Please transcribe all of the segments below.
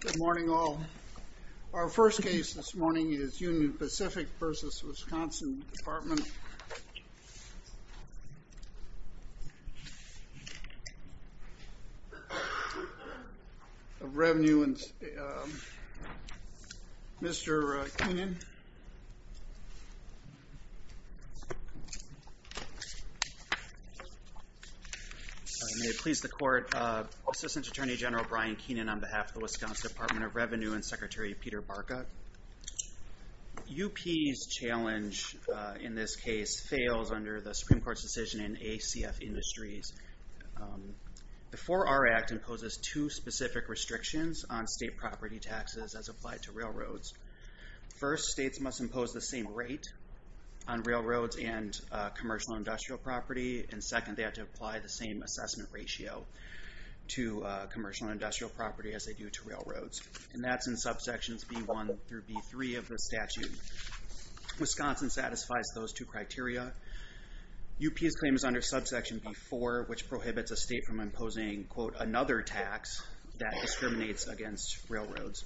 Good morning all. Our first case this morning is Union Pacific v. Wisconsin Department of May it please the court, Assistant Attorney General Brian Keenan on behalf of the Wisconsin Department of Revenue and Secretary Peter Barka. UP's challenge in this case fails under the Supreme Court's decision in ACF Industries. The 4R Act imposes two specific restrictions on state property taxes as applied to railroads. First, states must impose the same rate on railroads and commercial industrial property. And second, they have to apply the same assessment ratio to commercial industrial property as they do to railroads. And that's in subsections B1 through B3 of the statute. Wisconsin satisfies those two criteria. UP's claim is under subsection B4, which prohibits a state from imposing, quote, another tax that discriminates against railroads.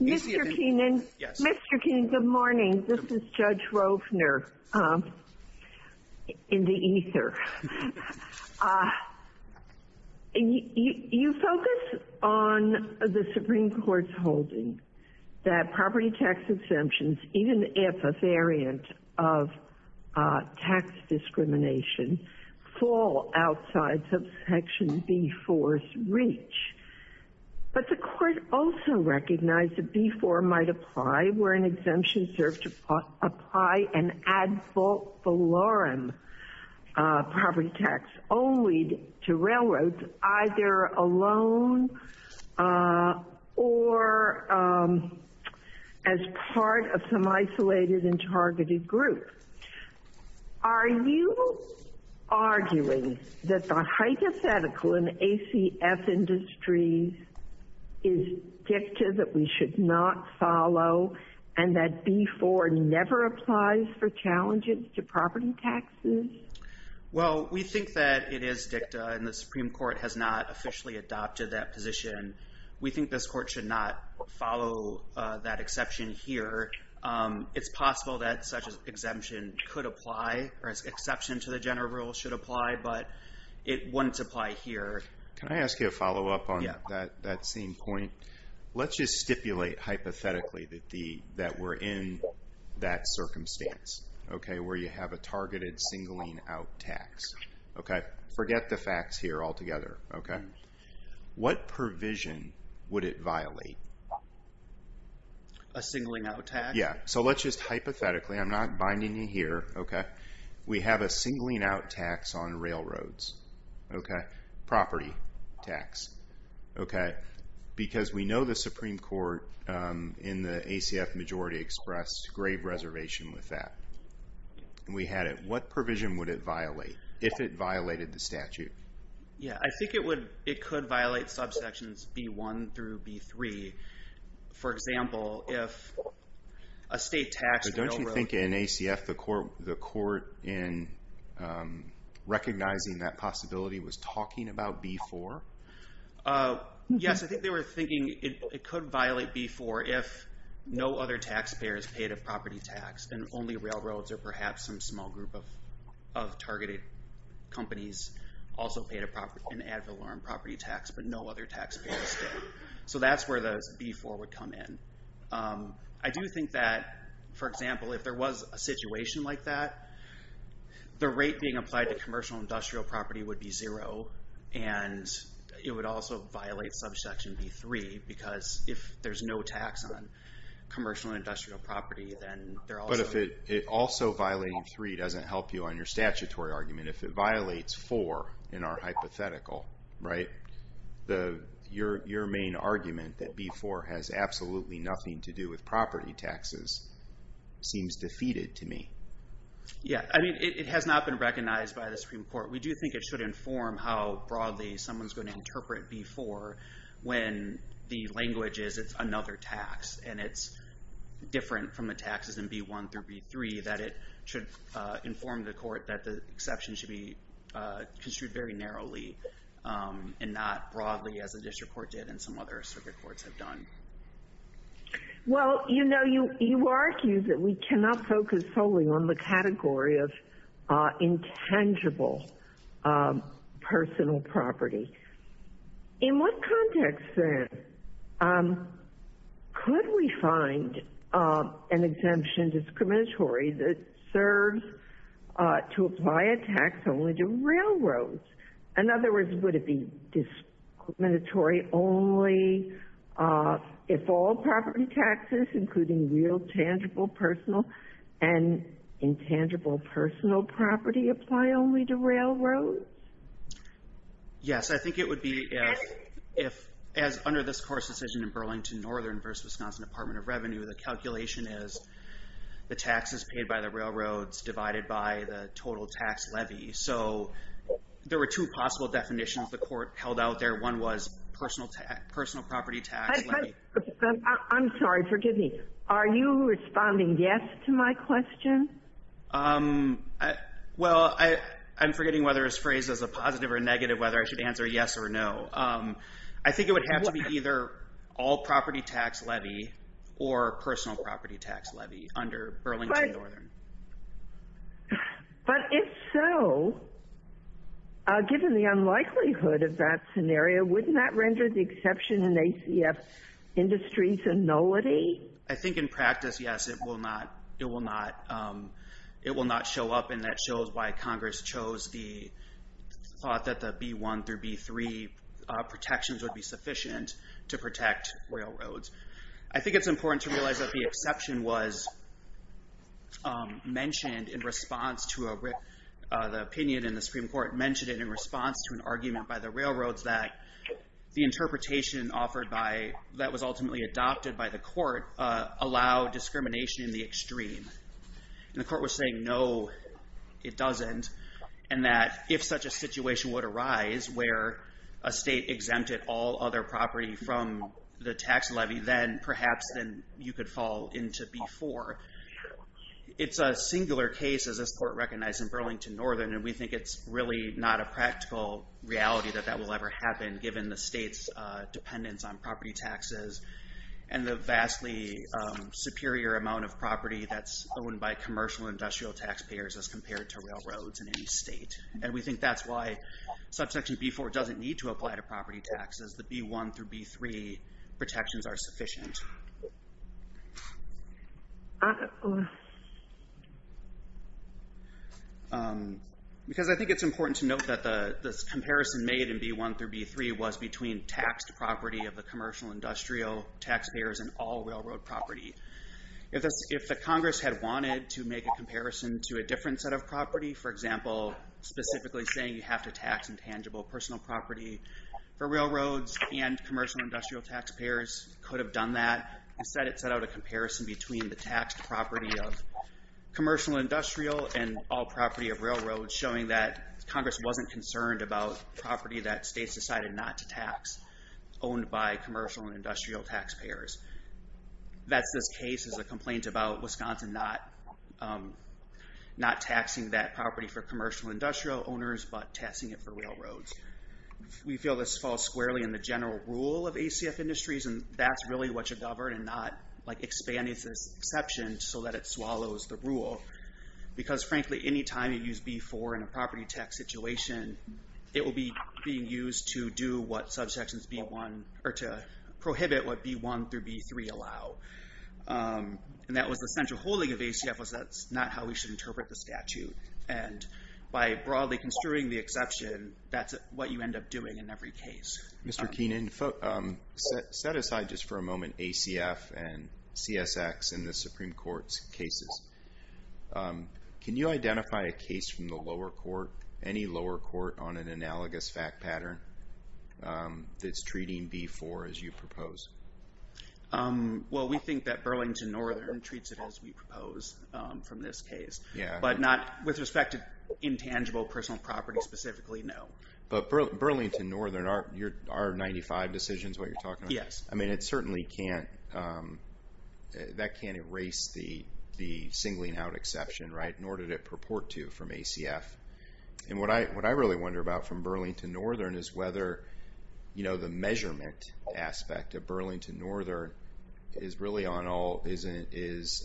Mr. Keenan, good morning. This is Judge Rovner in the ether. You focus on the Supreme Court's holding that property tax exemptions, even if a variant of tax discrimination, fall outside subsection B4's reach. But the court also recognized that B4 might apply where an exemption served to apply an ad valorem property tax only to railroads, either alone or as part of some isolated and targeted group. Are you arguing that the hypothetical in ACF Industries is dicta that we should not follow and that B4 never applies for challenges to property taxes? Well, we think that it is dicta and the Supreme Court has not officially adopted that position. We think this court should not follow that exception here. It's possible that such an exemption could apply, or an exception to the general rule should apply, but it wouldn't apply here. Can I ask you a follow-up on that same point? Let's just stipulate hypothetically that we're in that circumstance, where you have a targeted singling-out tax. Forget the facts here altogether. What provision would it violate? A singling-out tax? Yeah, so let's just hypothetically, I'm not binding you here, okay? We have a singling-out tax on railroads, okay? Property tax, okay? Because we know the Supreme Court in the ACF majority expressed grave reservation with that. We had it. What provision would it violate, if it violated the statute? Yeah, I think it could violate subsections B1 through B3. For example, if a state taxed railroad... Don't you think in ACF the court, in recognizing that possibility, was talking about B4? Yes, I think they were thinking it could violate B4 if no other taxpayer is paid a property tax, and only railroads or perhaps some small group of targeted companies also paid an ad valorem property tax, but no other taxpayer is paid. So that's where the B4 would come in. I do think that, for example, if there was a situation like that, the rate being applied to commercial industrial property would be zero, and it would also violate subsection B3, because if there's no tax on commercial industrial property, then they're also... But if it also violating B3 doesn't help you on your statutory argument, if it violates B4 in our hypothetical, right? Your main argument that B4 has absolutely nothing to do with property taxes seems defeated to me. Yeah, I mean, it has not been recognized by the Supreme Court. We do think it should inform how broadly someone's going to interpret B4 when the language is it's another tax, and it's different from the taxes in B1 through B3, that it should inform the court that the exception should be construed very narrowly and not broadly as the district court did and some other circuit courts have done. Well, you know, you argue that we cannot focus solely on the category of intangible personal property. In what context, then, could we find an exemption discriminatory that serves to apply a tax only to railroads? In other words, would it be discriminatory only if all property taxes, including real tangible personal and intangible personal property, apply only to railroads? Yes. I think it would be if, as under this court's decision in Burlington Northern versus Wisconsin Department of Revenue, the calculation is the taxes paid by the railroads divided by the total tax levy. So there were two possible definitions the court held out there. One was personal property tax levy. I'm sorry. Forgive me. Are you responding yes to my question? Well, I'm forgetting whether this phrase is a positive or negative, whether I should answer yes or no. I think it would have to be either all property tax levy or personal property tax levy under Burlington Northern. But if so, given the unlikelihood of that scenario, wouldn't that render the exception in ACF industries a nullity? I think in practice, yes. It will not show up, and that shows why Congress chose the thought that the B-1 through B-3 protections would be sufficient to protect railroads. I think it's important to realize that the exception was mentioned in response to a, the opinion in the Supreme Court mentioned it in response to an argument by the railroads that the interpretation offered by, that was ultimately adopted by the court, allowed discrimination in the extreme. And the court was saying no, it doesn't, and that if such a situation would arise where a state exempted all other property from the tax levy, then perhaps you could fall into B-4. It's a singular case, as this court recognized in Burlington Northern, and we think it's really not a practical reality that that will ever happen, given the state's dependence on property taxes and the vastly superior amount of property that's owned by commercial industrial taxpayers as compared to railroads in any state. And we think that's why Subsection B-4 doesn't need to apply to property taxes. The B-1 through B-3 protections are sufficient. Because I think it's important to note that this comparison made in B-1 through B-3 was between taxed property of the commercial industrial taxpayers and all railroad property. If the Congress had wanted to make a comparison to a different set of property, for example, specifically saying you have to tax intangible personal property for railroads and commercial industrial taxpayers could have done that. Instead it set out a comparison between the taxed property of commercial industrial and all property of railroads, showing that Congress wasn't concerned about property that states decided not to tax, owned by commercial and industrial taxpayers. That's this case as a complaint about Wisconsin not taxing that property for commercial industrial owners, but taxing it for railroads. We feel this falls squarely in the general rule of ACF industries, and that's really what should govern and not expand this exception so that it swallows the rule. Because, frankly, any time you use B-4 in a property tax situation, it will be being used to do what subsections B-1 or to prohibit what B-1 through B-3 allow. And that was the central holding of ACF was that's not how we should interpret the statute. And by broadly construing the exception, that's what you end up doing in every case. Mr. Keenan, set aside just for a moment ACF and CSX in the Supreme Court's cases. Can you identify a case from the lower court, any lower court, on an analogous fact pattern that's treating B-4 as you propose? Well, we think that Burlington Northern treats it as we propose from this case. But not with respect to intangible personal property specifically, no. But Burlington Northern, are 95 decisions what you're talking about? Yes. I mean, it certainly can't, that can't erase the singling out exception, right? Nor did it purport to from ACF. And what I really wonder about from Burlington Northern is whether, you know, the measurement aspect of Burlington Northern is really on all, is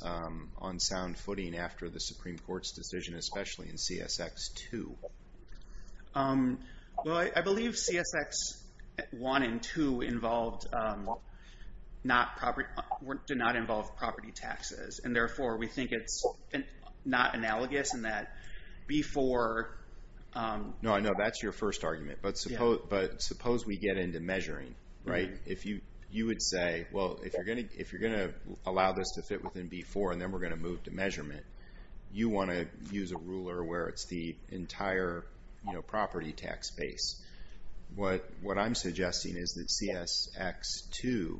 on sound footing after the Supreme Court's decision, especially in CSX-2. Well, I believe CSX-1 and 2 involved not property, did not involve property taxes. And therefore, we think it's not analogous in that B-4. No, I know that's your first argument. But suppose we get into measuring, right? If you would say, well, if you're going to allow this to fit within B-4 and then we're going to move to measurement, you want to use a ruler where it's the entire property tax base. What I'm suggesting is that CSX-2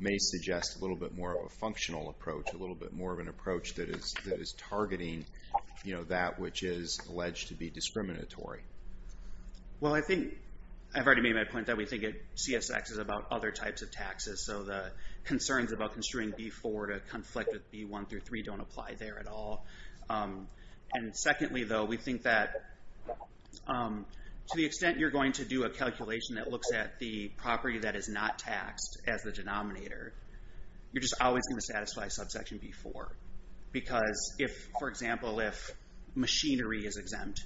may suggest a little bit more of a functional approach, a little bit more of an approach that is targeting, you know, that which is alleged to be discriminatory. Well, I think I've already made my point that we think CSX is about other types of taxes. So the concerns about construing B-4 to conflict with B-1 through 3 don't apply there at all. And secondly, though, we think that to the extent you're going to do a calculation that looks at the property that is not taxed as the denominator, you're just always going to satisfy subsection B-4. Because if, for example, if machinery is exempt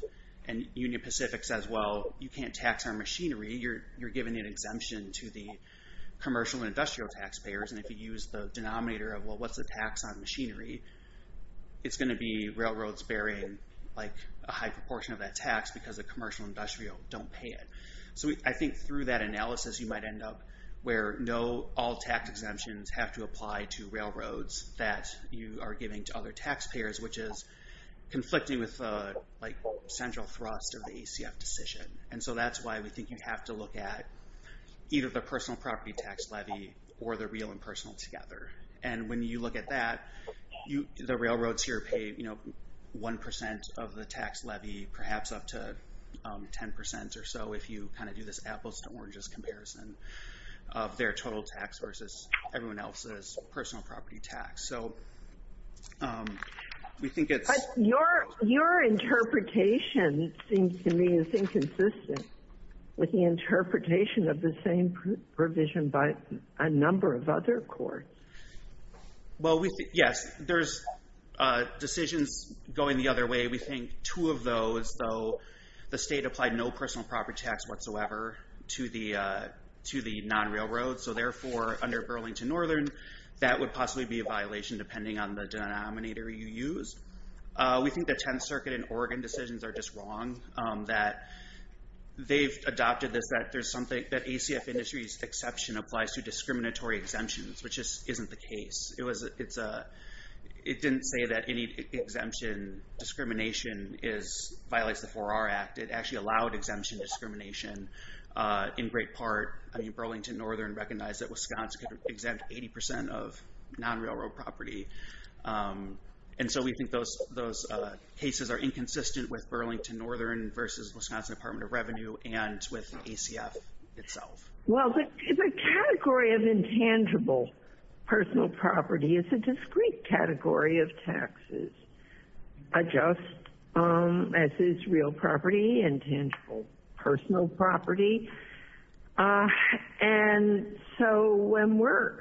and Union Pacific says, well, you can't tax our machinery, you're giving an exemption to the commercial and industrial taxpayers. And if you use the denominator of, well, what's the tax on machinery, it's going to be railroads bearing, like, a high proportion of that tax because the commercial and industrial don't pay it. So I think through that analysis you might end up where no, all tax exemptions have to apply to railroads that you are giving to other taxpayers, which is conflicting with, like, central thrust of the ACF decision. And so that's why we think you have to look at either the personal property tax levy or the real and personal together. And when you look at that, the railroads here pay 1% of the tax levy, perhaps up to 10% or so if you kind of do this apples to oranges comparison of their total tax versus everyone else's personal property tax. So we think it's... But your interpretation seems to me is inconsistent with the interpretation of the same provision by a number of other courts. Well, we think, yes, there's decisions going the other way. We think two of those, though, the state applied no personal property tax whatsoever to the non-railroads. So therefore, under Burlington Northern, that would possibly be a violation depending on the denominator you use. We think the Tenth Circuit and Oregon decisions are just wrong, that they've adopted this, that there's something, that ACF industry's exception applies to discriminatory exemptions, which just isn't the case. It didn't say that any exemption discrimination violates the 4R Act. It actually allowed exemption discrimination in great part. Burlington Northern recognized that Wisconsin could exempt 80% of non-railroad property. And so we think those cases are inconsistent with Burlington Northern versus Wisconsin Department of Revenue and with ACF itself. Well, the category of intangible personal property is a discrete category of taxes. A just, as is real property, intangible personal property. And so when we're,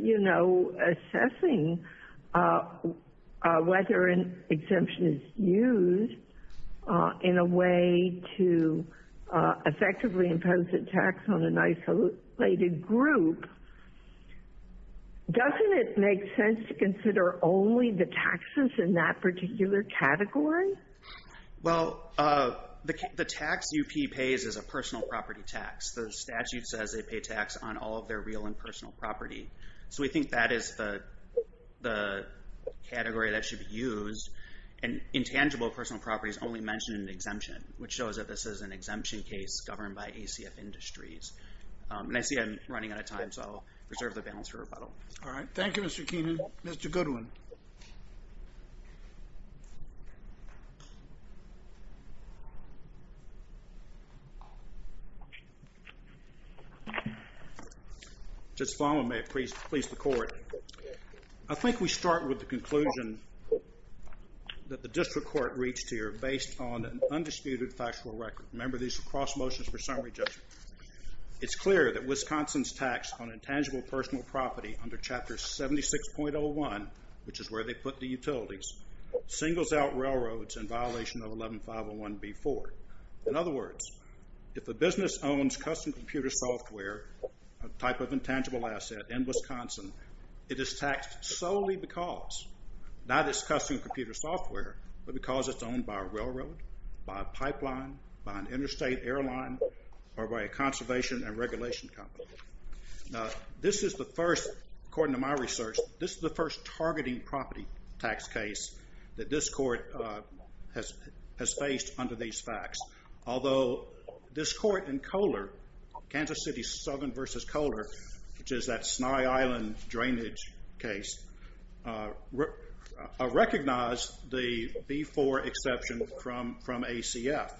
you know, assessing whether an exemption is used in a way to effectively impose a tax on an isolated group, doesn't it make sense to consider only the taxes in that particular category? Well, the tax UP pays is a personal property tax. The statute says they pay tax on all of their real and personal property. So we think that is the category that should be used. And intangible personal property is only mentioned in an exemption, which shows that this is an exemption case governed by ACF Industries. And I see I'm running out of time, so I'll reserve the balance for rebuttal. All right. Thank you, Mr. Keenan. Mr. Goodwin. Just follow me, please, the court. I think we start with the conclusion that the district court reached here based on an undisputed factual record. Remember, these are cross motions for summary judgment. It's clear that Wisconsin's tax on intangible personal property under Chapter 76.01, which is where they put the utilities, singles out railroads in violation of 11501B4. In other words, if a business owns custom computer software, a type of intangible asset in Wisconsin, it is taxed solely because not it's custom computer software, but because it's owned by a railroad, by a pipeline, by an interstate airline, or by a conservation and regulation company. Now, this is the first, according to my research, this is the first targeting property tax case that this court has faced under these facts. Although this court in Kohler, Kansas City Southern versus Kohler, which is that Sny Island drainage case, recognized the B4 exception from ACF.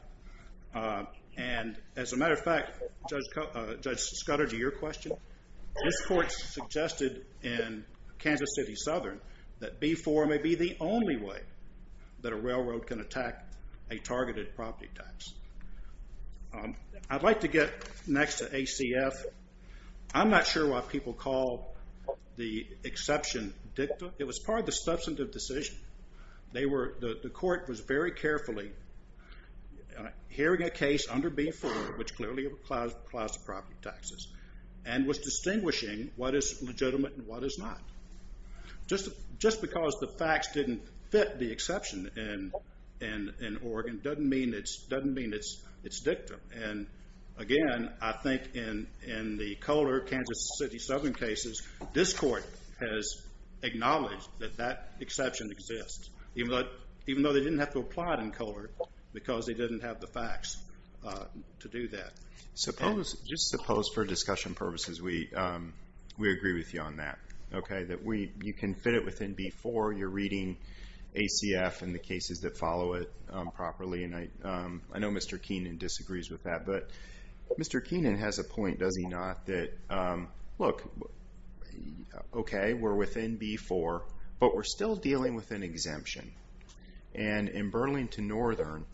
And as a matter of fact, Judge Scudder, to your question, this court suggested in Kansas City Southern that B4 may be the only way that a railroad can attack a targeted property tax. I'd like to get next to ACF. I'm not sure why people call the exception dicta. It was part of the substantive decision. The court was very carefully hearing a case under B4, which clearly applies to property taxes, and was distinguishing what is legitimate and what is not. Just because the facts didn't fit the exception in Oregon doesn't mean it's dicta. And again, I think in the Kohler, Kansas City Southern cases, this court has acknowledged that that exception exists, even though they didn't have to apply it in Kohler because they didn't have the facts to do that. Just suppose, for discussion purposes, we agree with you on that, that you can fit it within B4, you're reading ACF and the cases that follow it properly. I know Mr. Keenan disagrees with that, but Mr. Keenan has a point, does he not, that, look, okay, we're within B4, but we're still dealing with an exemption. And in Burlington Northern,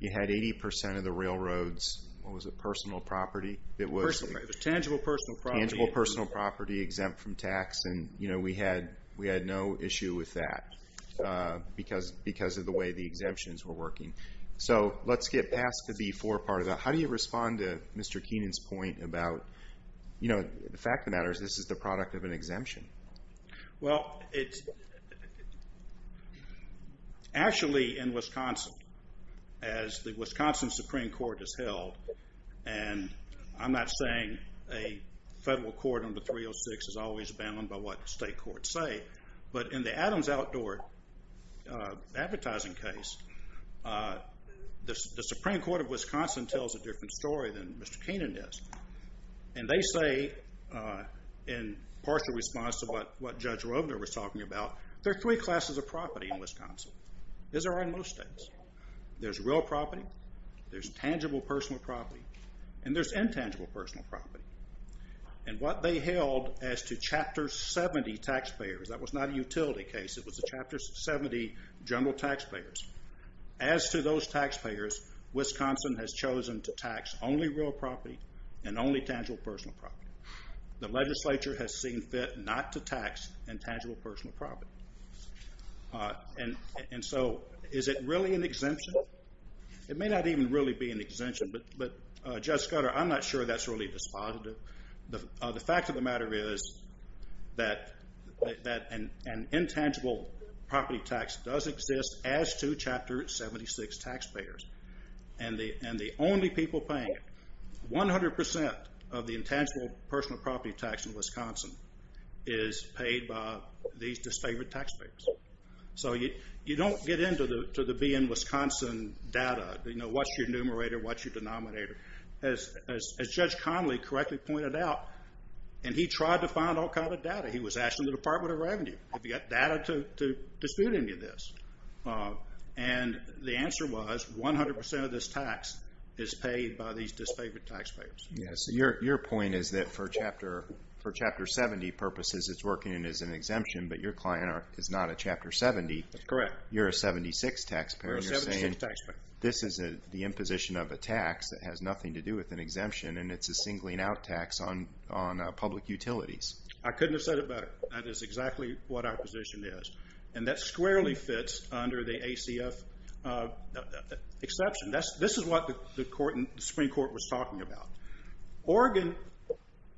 you had 80% of the railroads, what was it, personal property? It was tangible personal property. Tangible personal property exempt from tax, and we had no issue with that because of the way the exemptions were working. So let's get past the B4 part of that. How do you respond to Mr. Keenan's point about, the fact of the matter is this is the product of an exemption. Well, actually in Wisconsin, as the Wisconsin Supreme Court has held, and I'm not saying a federal court under 306 is always bound by what state courts say, but in the Adams Outdoor advertising case, the Supreme Court of Wisconsin tells a different story than Mr. Keenan does. And they say, in partial response to what Judge Roebner was talking about, there are three classes of property in Wisconsin. These are in most states. There's real property, there's tangible personal property, and there's intangible personal property. And what they held as to Chapter 70 taxpayers, that was not a utility case, it was a Chapter 70 general taxpayers. As to those taxpayers, Wisconsin has chosen to tax only real property and only tangible personal property. The legislature has seen fit not to tax intangible personal property. And so is it really an exemption? It may not even really be an exemption, but Judge Scudder, I'm not sure that's really dispositive. The fact of the matter is that an intangible property tax does exist as to Chapter 76 taxpayers. And the only people paying it, 100% of the intangible personal property tax in Wisconsin is paid by these disfavored taxpayers. So you don't get into the be-in-Wisconsin data, you know, what's your numerator, what's your denominator. As Judge Connolly correctly pointed out, and he tried to find all kind of data, he was asking the Department of Revenue, have you got data to dispute any of this? And the answer was 100% of this tax is paid by these disfavored taxpayers. Your point is that for Chapter 70 purposes, it's working as an exemption, but your client is not a Chapter 70. That's correct. You're a 76 taxpayer, and you're saying this is the imposition of a tax that has nothing to do with an exemption, and it's a singling out tax on public utilities. I couldn't have said it better. That is exactly what our position is. And that squarely fits under the ACF exception. This is what the Supreme Court was talking about. Oregon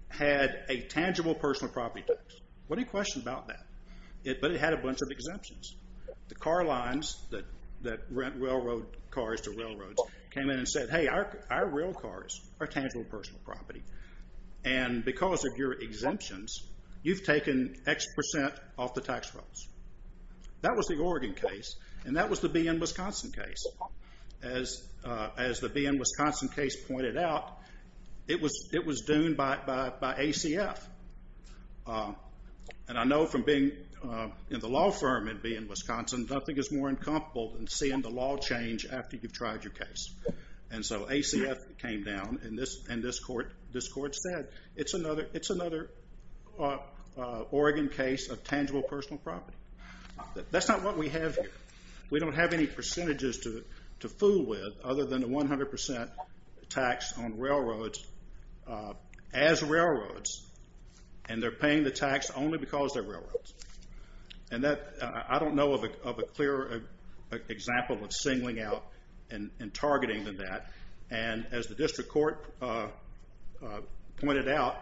had a tangible personal property tax. What do you question about that? But it had a bunch of exemptions. The car lines that rent railroad cars to railroads came in and said, hey, our rail cars are tangible personal property, and because of your exemptions, you've taken X percent off the tax rolls. That was the Oregon case, and that was the be-in-Wisconsin case. As the be-in-Wisconsin case pointed out, it was dooned by ACF. And I know from being in the law firm in be-in-Wisconsin, nothing is more incomparable than seeing the law change after you've tried your case. And so ACF came down, and this court said, it's another Oregon case of tangible personal property. That's not what we have here. We don't have any percentages to fool with other than the 100 percent tax on railroads as railroads, and they're paying the tax only because they're railroads. And I don't know of a clearer example of singling out and targeting than that. And as the district court pointed out,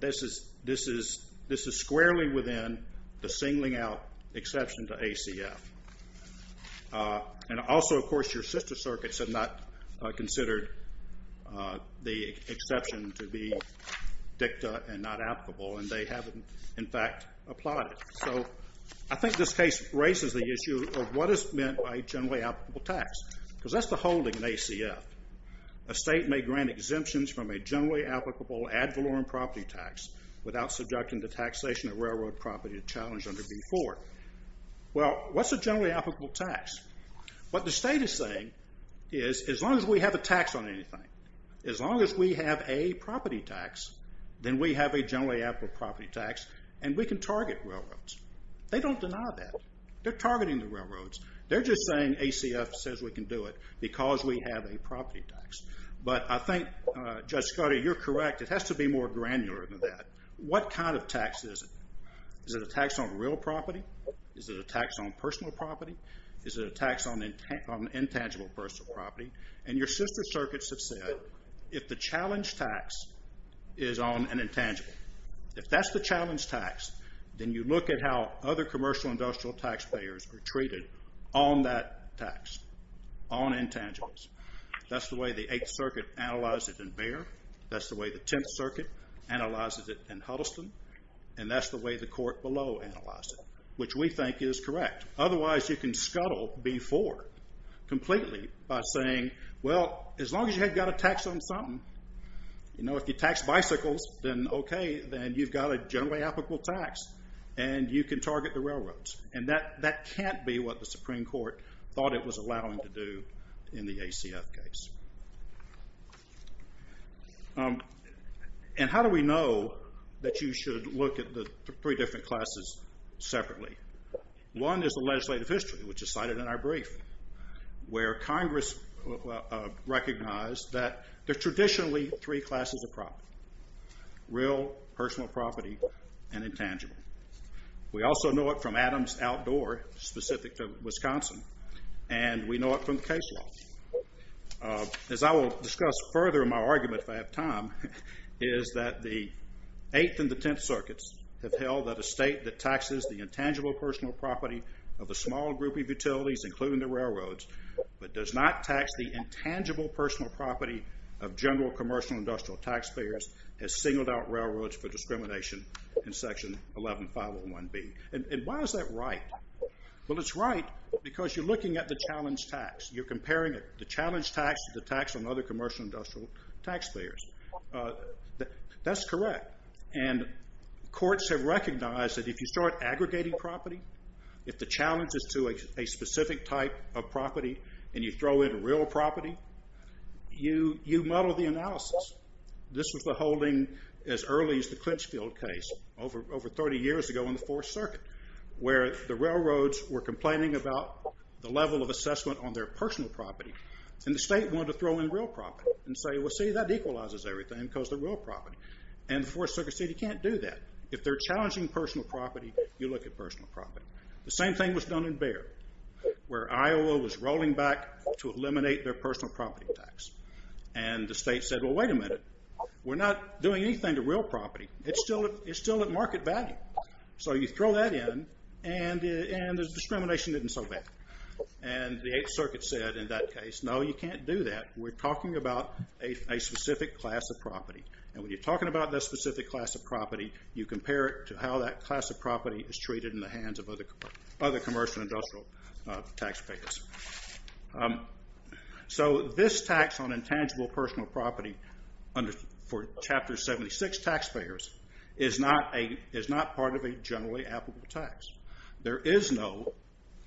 this is squarely within the singling out exception to ACF. And also, of course, your sister circuits have not considered the exception to be dicta and not applicable, and they haven't, in fact, applied it. So I think this case raises the issue of what is meant by generally applicable tax because that's the holding in ACF. A state may grant exemptions from a generally applicable ad valorem property tax without subjecting the taxation of railroad property to challenge under B-4. Well, what's a generally applicable tax? What the state is saying is as long as we have a tax on anything, as long as we have a property tax, then we have a generally applicable property tax, and we can target railroads. They don't deny that. They're targeting the railroads. They're just saying ACF says we can do it because we have a property tax. But I think, Judge Scudder, you're correct. It has to be more granular than that. What kind of tax is it? Is it a tax on real property? Is it a tax on personal property? Is it a tax on intangible personal property? And your sister circuits have said if the challenge tax is on an intangible, if that's the challenge tax, then you look at how other commercial and industrial taxpayers are treated on that tax, on intangibles. That's the way the Eighth Circuit analyzed it in Bexar. That's the way the Tenth Circuit analyzed it in Huddleston. And that's the way the court below analyzed it, which we think is correct. Otherwise, you can scuttle B-4 completely by saying, well, as long as you have got a tax on something, you know, if you tax bicycles, then okay, then you've got a generally applicable tax, and you can target the railroads. And that can't be what the Supreme Court thought it was allowing to do in the ACF case. And how do we know that you should look at the three different classes separately? One is the legislative history, which is cited in our brief, where Congress recognized that there are traditionally three classes of property, real, personal property, and intangible. We also know it from Adams Outdoor, specific to Wisconsin, and we know it from the case law. As I will discuss further in my argument, if I have time, is that the Eighth and the Tenth Circuits have held that a state that taxes the intangible personal property of a small group of utilities, including the railroads, but does not tax the intangible personal property of general commercial industrial taxpayers, has singled out railroads for discrimination in Section 11501B. And why is that right? Well, it's right because you're looking at the challenge tax. You're comparing the challenge tax to the tax on other commercial industrial taxpayers. That's correct. And courts have recognized that if you start aggregating property, if the challenge is to a specific type of property and you throw in real property, you muddle the analysis. This was the holding as early as the Clinchfield case over 30 years ago in the Fourth Circuit, where the railroads were complaining about the level of assessment on their personal property, and the state wanted to throw in real property and say, well, see, that equalizes everything because they're real property. And the Fourth Circuit said you can't do that. If they're challenging personal property, you look at personal property. The same thing was done in Bexar, where Iowa was rolling back to eliminate their personal property tax. And the state said, well, wait a minute. We're not doing anything to real property. It's still at market value. So you throw that in, and the discrimination isn't so bad. And the Eighth Circuit said in that case, no, you can't do that. We're talking about a specific class of property. And when you're talking about that specific class of property, you compare it to how that class of property is treated in the hands of other commercial and industrial taxpayers. So this tax on intangible personal property for Chapter 76 taxpayers is not part of a generally applicable tax. There is no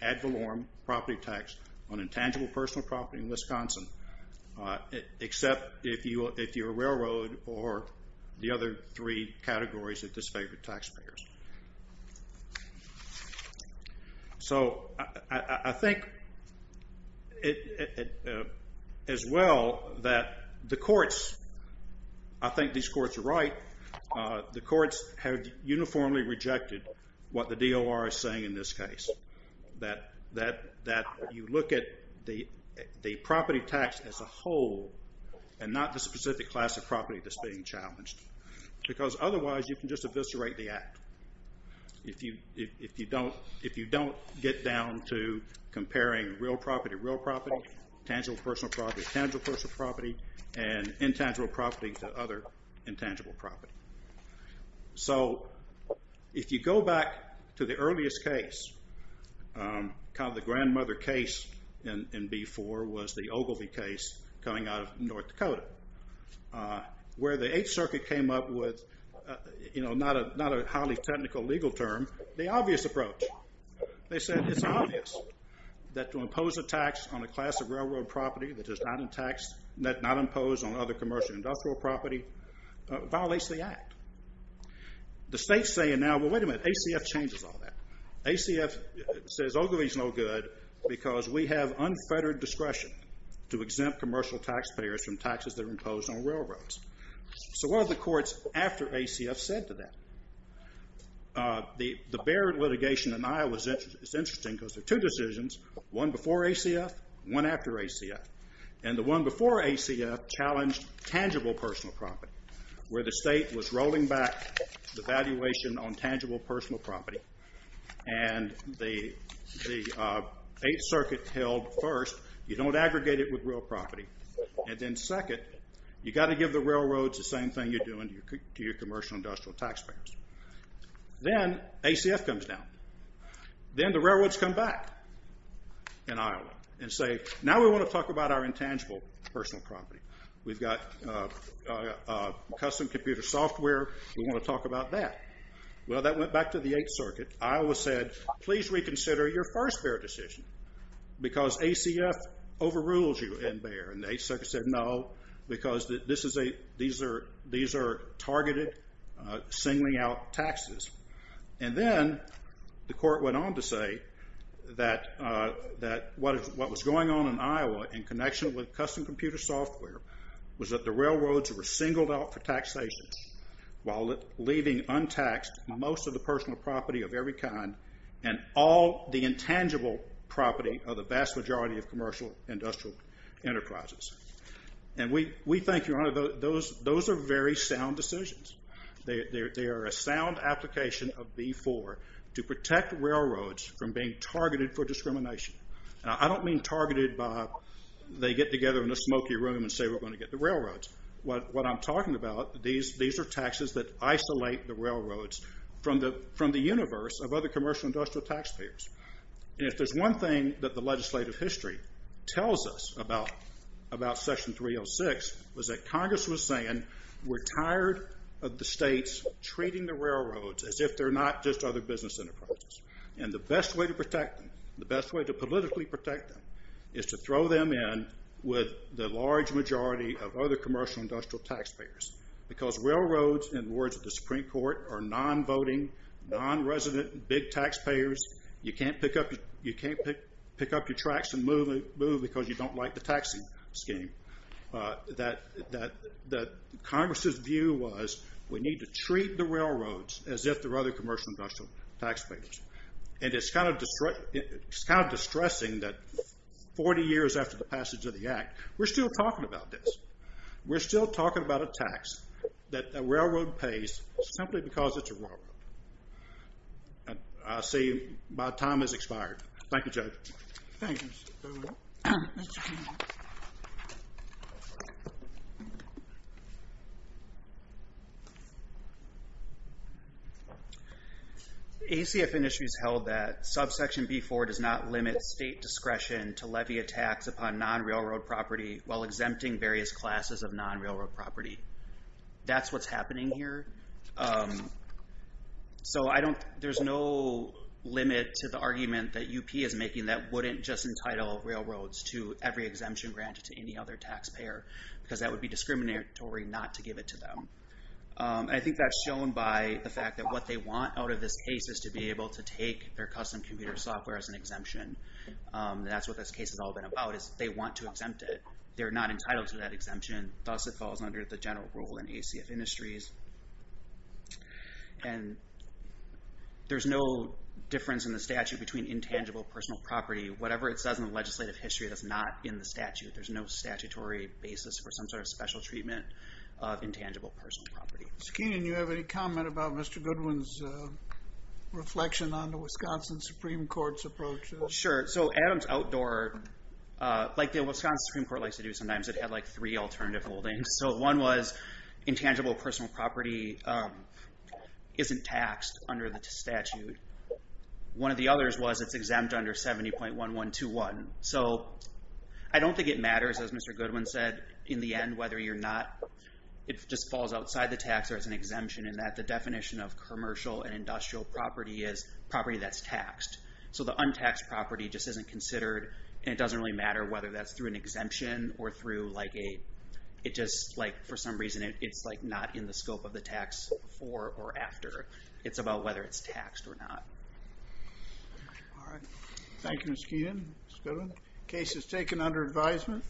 ad valorem property tax on intangible personal property in Wisconsin, except if you're a railroad or the other three categories that disfavor taxpayers. So I think as well that the courts, I think these courts are right. The courts have uniformly rejected what the DOR is saying in this case, that you look at the property tax as a whole and not the specific class of property that's being challenged. Because otherwise you can just eviscerate the act if you don't get down to comparing real property to real property, tangible personal property to tangible personal property, and intangible property to other intangible property. So if you go back to the earliest case, kind of the grandmother case in B4 was the Ogilvy case coming out of North Dakota, where the Eighth Circuit came up with not a highly technical legal term, the obvious approach. They said it's obvious that to impose a tax on a class of railroad property that is not imposed on other commercial industrial property violates the act. The state's saying now, well, wait a minute, ACF changes all that. ACF says Ogilvy's no good because we have unfettered discretion to exempt commercial taxpayers from taxes that are imposed on railroads. So what have the courts after ACF said to them? The Barrett litigation in Iowa is interesting because there are two decisions, one before ACF, one after ACF, and the one before ACF challenged tangible personal property where the state was rolling back the valuation on tangible personal property and the Eighth Circuit held first, you don't aggregate it with real property, and then second, you've got to give the railroads the same thing you're doing to your commercial industrial taxpayers. Then ACF comes down. Then the railroads come back in Iowa and say, now we want to talk about our intangible personal property. We've got custom computer software. We want to talk about that. Well, that went back to the Eighth Circuit. Iowa said, please reconsider your first Barrett decision because ACF overrules you in Barrett, and the Eighth Circuit said no because these are targeted singling out taxes. And then the court went on to say that what was going on in Iowa in connection with custom computer software was that the railroads were singled out for taxation while leaving untaxed most of the personal property of every kind and all the intangible property of the vast majority of commercial industrial enterprises. And we think, Your Honor, those are very sound decisions. They are a sound application of B-4 to protect railroads from being targeted for discrimination. I don't mean targeted by they get together in a smoky room and say we're going to get the railroads. What I'm talking about, these are taxes that isolate the railroads from the universe of other commercial industrial taxpayers. And if there's one thing that the legislative history tells us about Section 306 was that Congress was saying we're tired of the states treating the railroads as if they're not just other business enterprises. And the best way to protect them, the best way to politically protect them is to throw them in with the large majority of other commercial industrial taxpayers because railroads, in words of the Supreme Court, are non-voting, non-resident, big taxpayers. You can't pick up your tracks and move because you don't like the taxing scheme. Congress's view was we need to treat the railroads as if they're other commercial industrial taxpayers. And it's kind of distressing that 40 years after the passage of the Act, we're still talking about this. We're still talking about a tax that a railroad pays simply because it's a railroad. I'll say my time has expired. Thank you, Judge. Thank you, Mr. Chairman. ACF industries held that subsection B4 does not limit state discretion to levy a tax upon non-railroad property while exempting various classes of non-railroad property. That's what's happening here. So there's no limit to the argument that UP is making that wouldn't just entitle railroads to every exemption granted to any other taxpayer because that would be discriminatory not to give it to them. I think that's shown by the fact that what they want out of this case is to be able to take their custom computer software as an exemption. That's what this case has all been about, is they want to exempt it. They're not entitled to that exemption. Thus, it falls under the general rule in ACF industries. And there's no difference in the statute between intangible personal property. Whatever it says in the legislative history, that's not in the statute. There's no statutory basis for some sort of special treatment of intangible personal property. Mr. Keenan, do you have any comment about Mr. Goodwin's reflection on the Wisconsin Supreme Court's approach? Sure. So Adams Outdoor, like the Wisconsin Supreme Court likes to do sometimes, it had, like, three alternative holdings. So one was intangible personal property isn't taxed under the statute. One of the others was it's exempt under 70.1121. So I don't think it matters, as Mr. Goodwin said, in the end whether you're not, if it just falls outside the tax or it's an exemption in that the definition of commercial and industrial property is property that's taxed. So the untaxed property just isn't considered, and it doesn't really matter whether that's through an exemption or through, like, a, it just, like, for some reason, it's, like, not in the scope of the tax before or after. It's about whether it's taxed or not. All right. Thank you, Mr. Keenan, Mr. Goodwin. Case is taken under advisement.